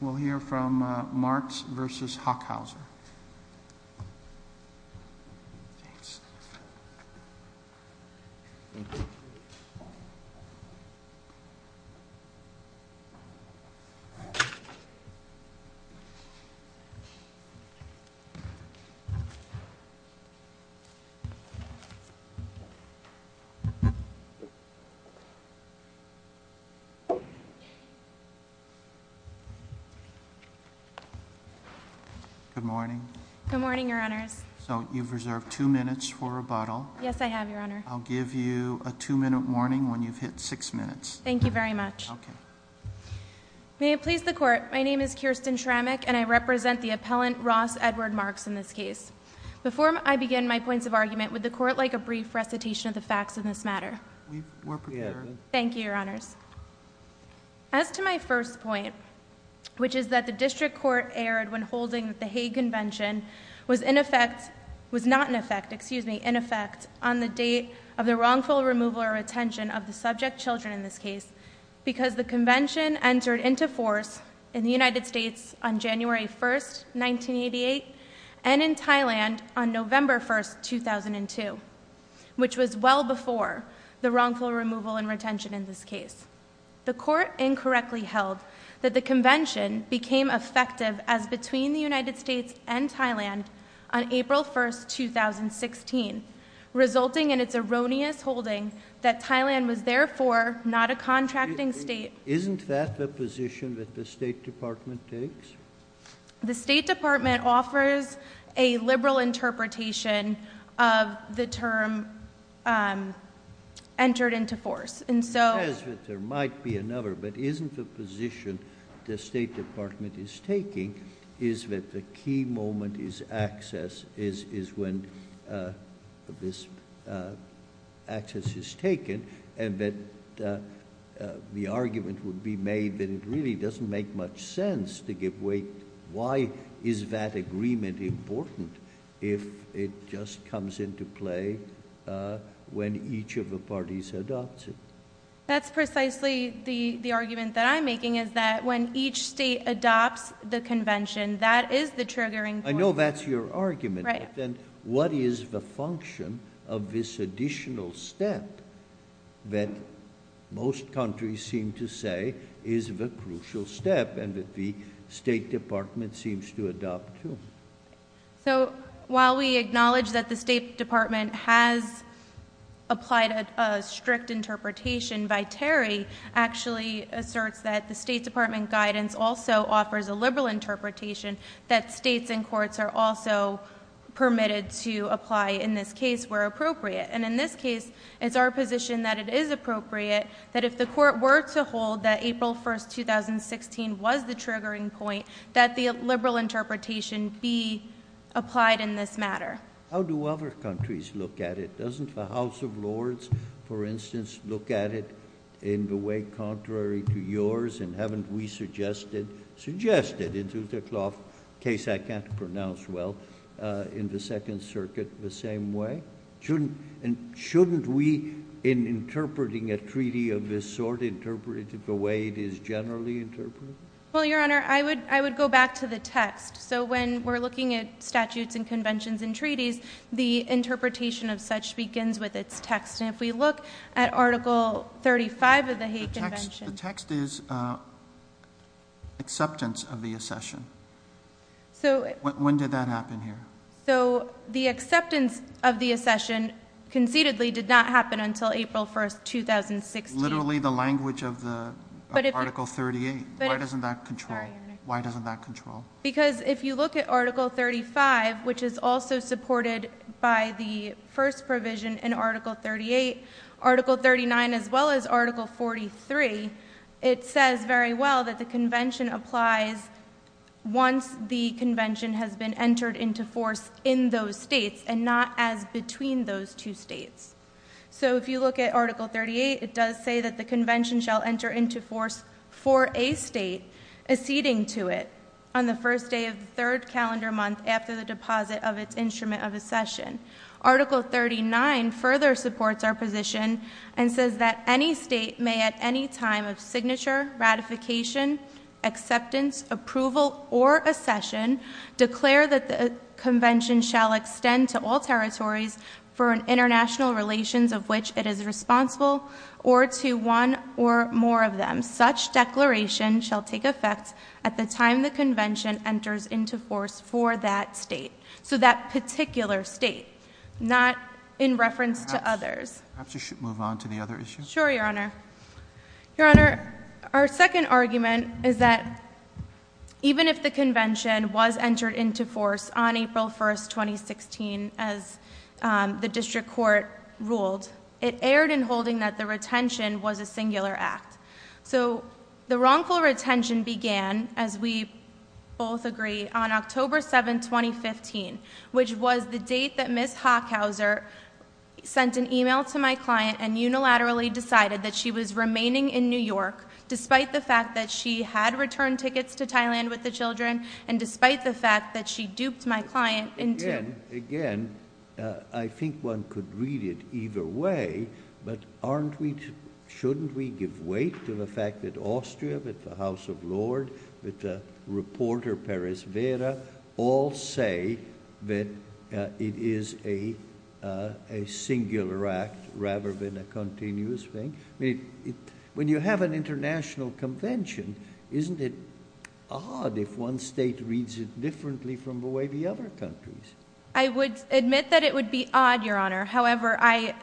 We'll hear from Marks v. Hochhauser. Good morning. Good morning, Your Honors. So, you've reserved two minutes for rebuttal. Yes, I have, Your Honor. I'll give you a two-minute warning when you've hit six minutes. Thank you very much. Okay. May it please the Court, my name is Kirsten Tramek, and I represent the appellant Ross Edward Marks in this case. Before I begin my points of argument, would the Court like a brief recitation of the facts in this matter? We're prepared. Thank you, Your Honors. As to my first point, which is that the district court erred when holding that the Hague Convention was in effect was not in effect, excuse me, in effect on the date of the wrongful removal or retention of the subject children in this case because the convention entered into force in the United States on January 1st, 1988, and in Thailand on November 1st, 2002, which was well before the wrongful removal and retention in this case. The Court incorrectly held that the convention became effective as between the United States and Thailand on April 1st, 2016, resulting in its erroneous holding that Thailand was therefore not a contracting state. Isn't that the position that the State Department takes? The State Department offers a liberal interpretation of the term entered into force, and so— It says that there might be another, but isn't the position the State Department is taking is that the key moment is access, is when this access is taken, and that the argument would be made that it really doesn't make much sense to give way. Why is that agreement important if it just comes into play when each of the parties adopts it? That's precisely the argument that I'm making, is that when each state adopts the convention, that is the triggering point. I know that's your argument, but then what is the function of this additional step that most countries seem to say is the crucial step, and that the State Department seems to adopt, too? So, while we acknowledge that the State Department has applied a strict interpretation, actually asserts that the State Department guidance also offers a liberal interpretation, that states and courts are also permitted to apply, in this case, where appropriate. And in this case, it's our position that it is appropriate that if the court were to hold that April 1st, 2016 was the triggering point, that the liberal interpretation be applied in this matter. How do other countries look at it? Doesn't the House of Lords, for instance, look at it in the way contrary to yours, and haven't we suggested, suggested, in Zuterclough's case, I can't pronounce well, in the Second Circuit the same way? Shouldn't we, in interpreting a treaty of this sort, interpret it the way it is generally interpreted? Well, Your Honor, I would go back to the text. So, when we're looking at statutes and conventions and treaties, the interpretation of such begins with its text. And if we look at Article 35 of the Hague Convention. The text is acceptance of the accession. When did that happen here? So, the acceptance of the accession concededly did not happen until April 1st, 2016. That's literally the language of Article 38. Why doesn't that control? Sorry, Your Honor. Why doesn't that control? Because if you look at Article 35, which is also supported by the first provision in Article 38, Article 39, as well as Article 43, it says very well that the convention applies once the convention has been entered into force in those states, and not as between those two states. So, if you look at Article 38, it does say that the convention shall enter into force for a state acceding to it on the first day of the third calendar month after the deposit of its instrument of accession. Article 39 further supports our position and says that any state may at any time of signature, ratification, acceptance, approval, or accession declare that the convention shall extend to all territories for an international relations of which it is responsible or to one or more of them. Such declaration shall take effect at the time the convention enters into force for that state. So, that particular state, not in reference to others. Perhaps you should move on to the other issue. Sure, Your Honor. Your Honor, our second argument is that even if the convention was entered into force on April 1, 2016, as the district court ruled, it erred in holding that the retention was a singular act. So, the wrongful retention began, as we both agree, on October 7, 2015, which was the date that Ms. Hochhauser sent an email to my client and unilaterally decided that she was remaining in New York despite the fact that she had returned tickets to Thailand with the children and despite the fact that she duped my client into... Again, again, I think one could read it either way, but aren't we, shouldn't we give weight to the fact that Austria, that the House of Lords, that the reporter Perez Vera all say that it is a singular act rather than a continuous thing? When you have an international convention, isn't it odd if one state reads it differently from the way the other countries? I would admit that it would be odd, Your Honor. However, I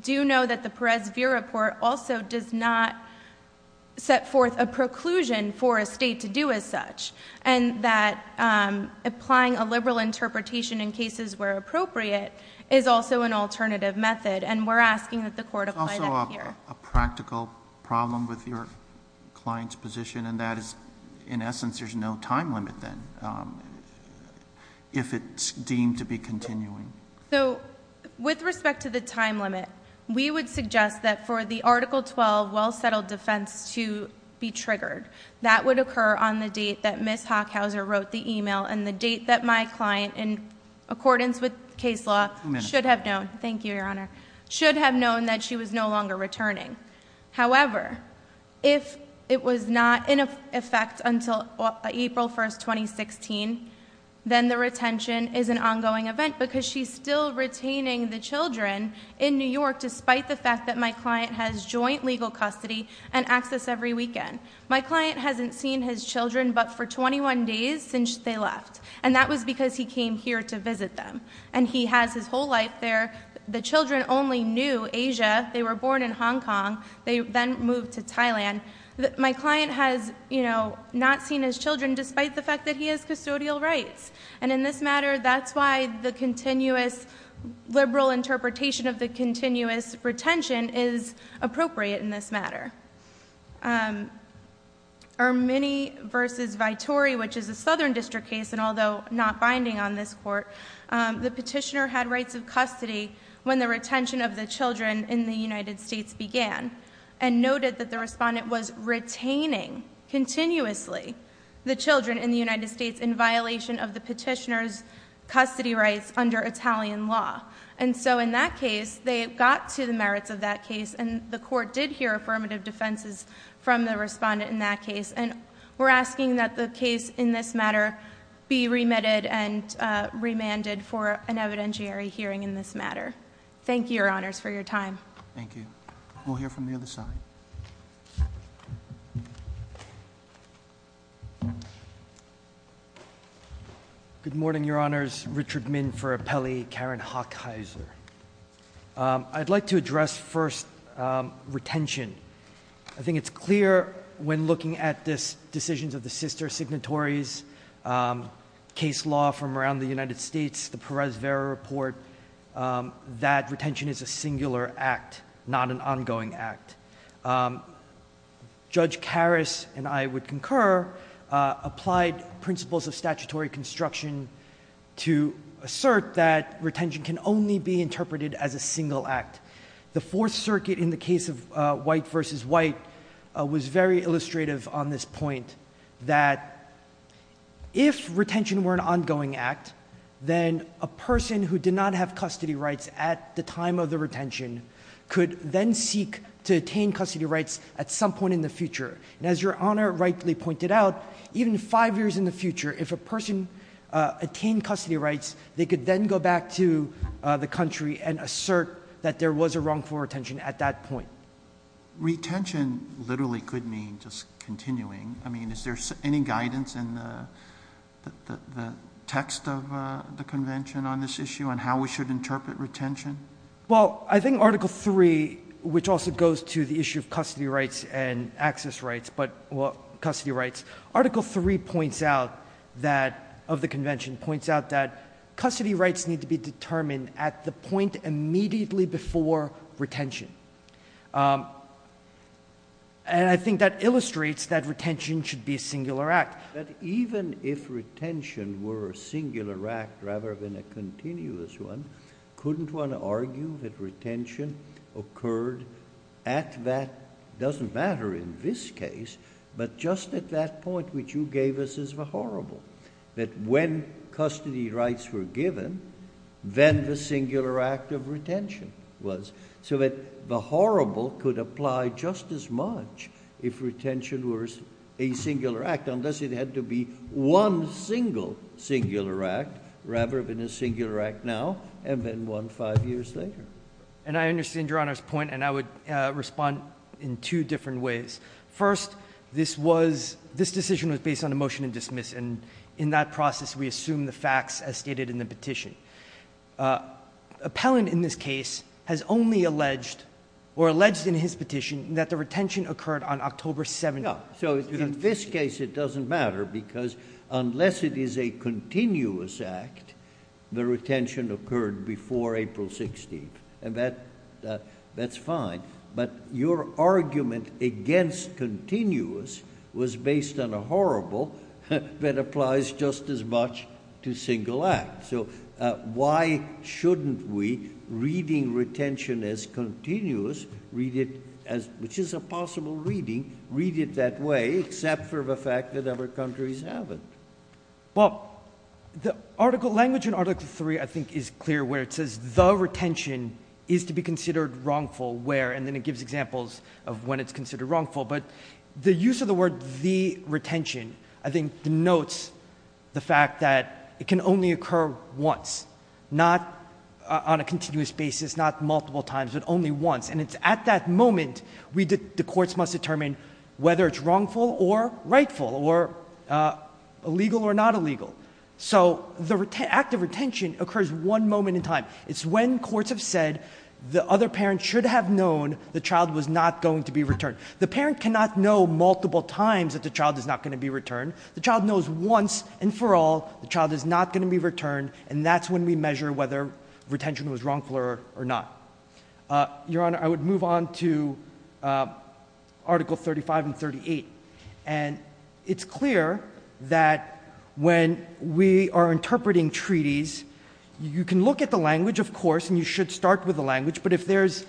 do know that the Perez Vera report also does not set forth a preclusion for a state to do as such, and that applying a liberal interpretation in cases where appropriate is also an alternative method, and we're asking that the court apply that here. It's also a practical problem with your client's position, and that is, in essence, there's no time limit then if it's deemed to be continuing. So, with respect to the time limit, we would suggest that for the Article 12 well settled defense to be triggered, that would occur on the date that Ms. Hockhauser wrote the email and the date that my client, in accordance with case law, should have known, thank you, Your Honor, should have known that she was no longer returning. However, if it was not in effect until April 1st, 2016, then the retention is an ongoing event, because she's still retaining the children in New York, despite the fact that my client has joint legal custody and access every weekend. My client hasn't seen his children but for 21 days since they left, and that was because he came here to visit them. And he has his whole life there. The children only knew Asia. They were born in Hong Kong. They then moved to Thailand. And again, my client has not seen his children, despite the fact that he has custodial rights. And in this matter, that's why the continuous liberal interpretation of the continuous retention is appropriate in this matter. Ermini v. Vitori, which is a southern district case, and although not binding on this court, the petitioner had rights of custody when the retention of the children in the United States began. And noted that the respondent was retaining, continuously, the children in the United States in violation of the petitioner's custody rights under Italian law. And so in that case, they got to the merits of that case. And the court did hear affirmative defenses from the respondent in that case. And we're asking that the case in this matter be remitted and remanded for an evidentiary hearing in this matter. Thank you, your honors, for your time. Thank you. We'll hear from the other side. Good morning, your honors. Richard Min for Appelli, Karen Hochheiser. I'd like to address first retention. I think it's clear when looking at this decisions of the sister signatories, case law from around the United States, the Perez-Vera report, that retention is a singular act, not an ongoing act. Judge Karras, and I would concur, applied principles of statutory construction to assert that retention can only be interpreted as a single act. The Fourth Circuit, in the case of White v. White, was very illustrative on this point that if retention were an ongoing act, then a person who did not have custody rights at the time of the retention could then seek to attain custody rights at some point in the future. And as your honor rightly pointed out, even five years in the future, if a person attained custody rights, they could then go back to the country and assert that there was a wrongful retention at that point. Retention literally could mean just continuing. I mean, is there any guidance in the text of the Convention on this issue on how we should interpret retention? Well, I think Article 3, which also goes to the issue of custody rights and access rights, but custody rights, Article 3 points out that, of the Convention, points out that custody rights need to be determined at the point immediately before retention. And I think that illustrates that retention should be a singular act. But even if retention were a singular act rather than a continuous one, couldn't one argue that retention occurred at that, doesn't matter in this case, but just at that point which you gave us as the horrible, that when custody rights were given, then the singular act of retention was. So that the horrible could apply just as much if retention were a singular act unless it had to be one single singular act rather than a singular act now and then one five years later. And I understand your honor's point and I would respond in two different ways. First, this decision was based on a motion to dismiss and in that process we assume the facts as stated in the petition. Appellant in this case has only alleged or alleged in his petition that the retention occurred on October 7th. So in this case it doesn't matter because unless it is a continuous act, the retention occurred before April 16th and that's fine. But your argument against continuous was based on a horrible that applies just as much to single act. So why shouldn't we, reading retention as continuous, which is a possible reading, read it that way except for the fact that other countries haven't? Well, the language in Article 3 I think is clear where it says the retention is to be considered wrongful where and then it gives examples of when it's considered wrongful. But the use of the word the retention I think denotes the fact that it can only occur once, not on a continuous basis, not multiple times, but only once. And it's at that moment the courts must determine whether it's wrongful or rightful or illegal or not illegal. So the act of retention occurs one moment in time. It's when courts have said the other parent should have known the child was not going to be returned. The parent cannot know multiple times that the child is not going to be returned. The child knows once and for all the child is not going to be returned, and that's when we measure whether retention was wrongful or not. Your Honor, I would move on to Article 35 and 38. And it's clear that when we are interpreting treaties, you can look at the language, of course, and you should start with the language, but if there's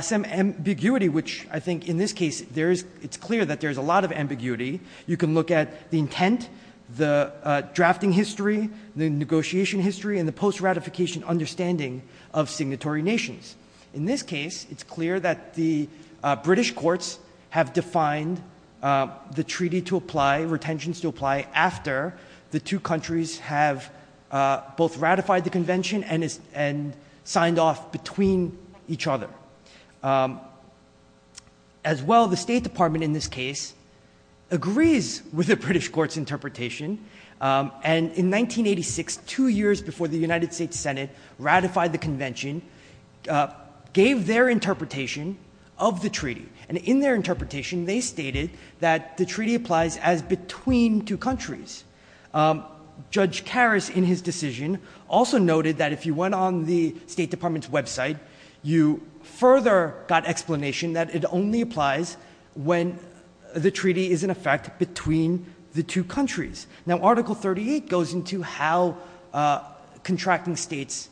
some ambiguity, which I think in this case it's clear that there's a lot of ambiguity, you can look at the intent, the drafting history, the negotiation history, and the post-ratification understanding of signatory nations. In this case, it's clear that the British courts have defined the treaty to apply, retentions to apply, after the two countries have both ratified the convention and signed off between each other. As well, the State Department in this case agrees with the British courts' interpretation, and in 1986, two years before the United States Senate ratified the convention, gave their interpretation of the treaty. And in their interpretation, they stated that the treaty applies as between two countries. Judge Karras, in his decision, also noted that if you went on the State Department's website, you further got explanation that it only applies when the treaty is, in effect, between the two countries. Now, Article 38 goes into how contracting states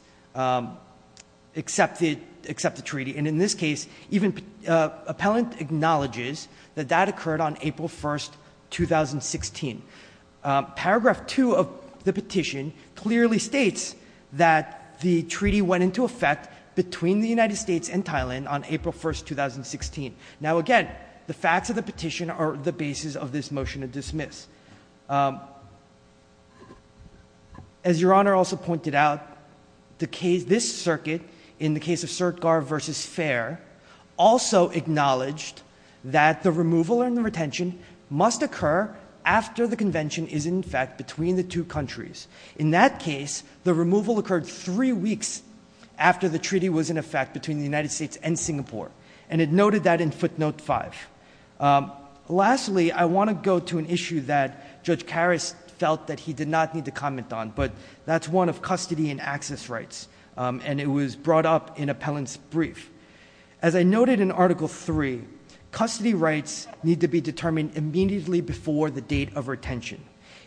accept the treaty, and in this case, even appellant acknowledges that that occurred on April 1, 2016. Paragraph 2 of the petition clearly states that the treaty went into effect between the United States and Thailand on April 1, 2016. Now, again, the facts of the petition are the basis of this motion to dismiss. As Your Honor also pointed out, this circuit, in the case of Sertgar v. Fair, also acknowledged that the removal and the retention must occur after the convention is, in effect, between the two countries. In that case, the removal occurred three weeks after the treaty was in effect between the United States and Singapore, and it noted that in footnote 5. Lastly, I want to go to an issue that Judge Karras felt that he did not need to comment on, but that's one of custody and access rights, and it was brought up in appellant's brief. As I noted in Article 3, custody rights need to be determined immediately before the date of retention.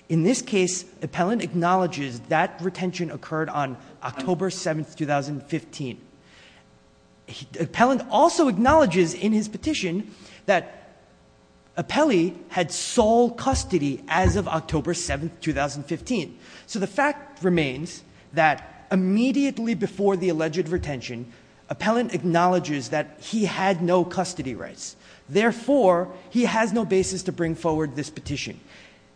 In this case, appellant acknowledges that retention occurred on October 7, 2015. Appellant also acknowledges in his petition that appellee had sole custody as of October 7, 2015. So the fact remains that immediately before the alleged retention, appellant acknowledges that he had no custody rights. Therefore, he has no basis to bring forward this petition.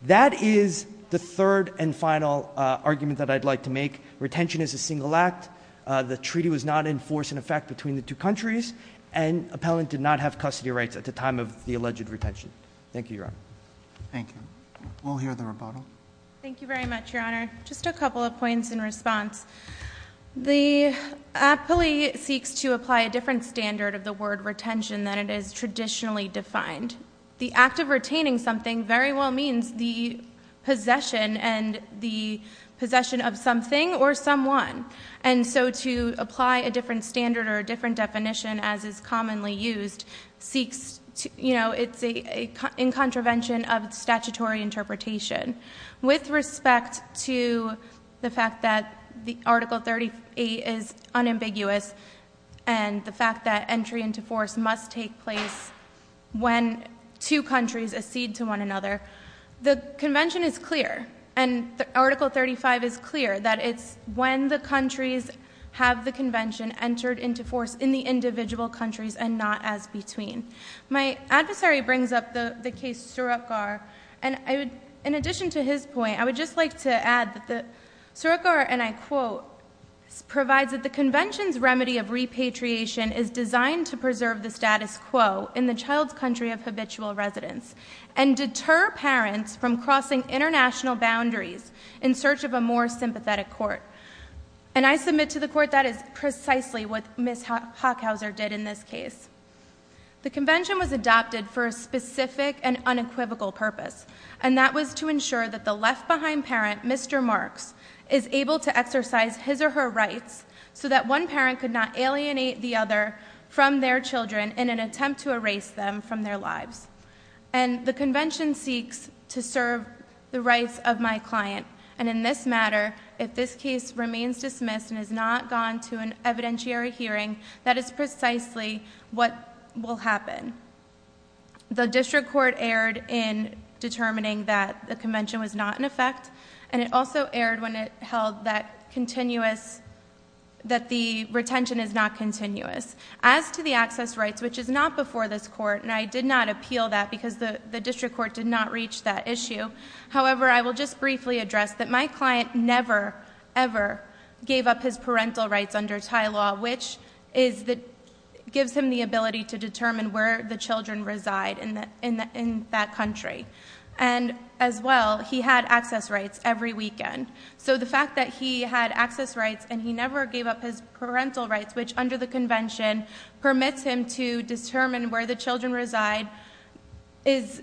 That is the third and final argument that I'd like to make. Retention is a single act. The treaty was not in force, in effect, between the two countries, and appellant did not have custody rights at the time of the alleged retention. Thank you, Your Honor. Thank you. We'll hear the rebuttal. Thank you very much, Your Honor. Just a couple of points in response. The appellee seeks to apply a different standard of the word retention than it is traditionally defined. The act of retaining something very well means the possession and the possession of something or someone. So to apply a different standard or a different definition, as is commonly used, it's in contravention of statutory interpretation. With respect to the fact that Article 38 is unambiguous and the fact that entry into force must take place when two countries accede to one another, the Convention is clear, and Article 35 is clear, that it's when the countries have the Convention entered into force in the individual countries and not as between. My adversary brings up the case Surakgar, and in addition to his point, I would just like to add that Surakgar, and I quote, provides that the Convention's remedy of repatriation is designed to preserve the status quo in the child's country of habitual residence and deter parents from crossing international boundaries in search of a more sympathetic court. And I submit to the Court that is precisely what Ms. Hochhauser did in this case. The Convention was adopted for a specific and unequivocal purpose, and that was to ensure that the left-behind parent, Mr. Marks, is able to exercise his or her rights so that one parent could not alienate the other from their children in an attempt to erase them from their lives. And the Convention seeks to serve the rights of my client, and in this matter, if this case remains dismissed and is not gone to an evidentiary hearing, that is precisely what will happen. The District Court erred in determining that the Convention was not in effect, and it also erred when it held that the retention is not continuous. As to the access rights, which is not before this Court, and I did not appeal that because the District Court did not reach that issue, however, I will just briefly address that my client never, ever gave up his parental rights under Thai law, which gives him the ability to determine where the children reside in that country. And as well, he had access rights every weekend. So the fact that he had access rights and he never gave up his parental rights, which under the Convention permits him to determine where the children reside, is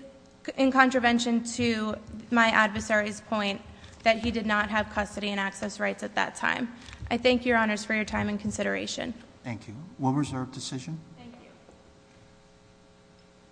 in contravention to my adversary's point that he did not have custody and access rights at that time. I thank Your Honors for your time and consideration. Thank you. Will reserve decision. Thank you.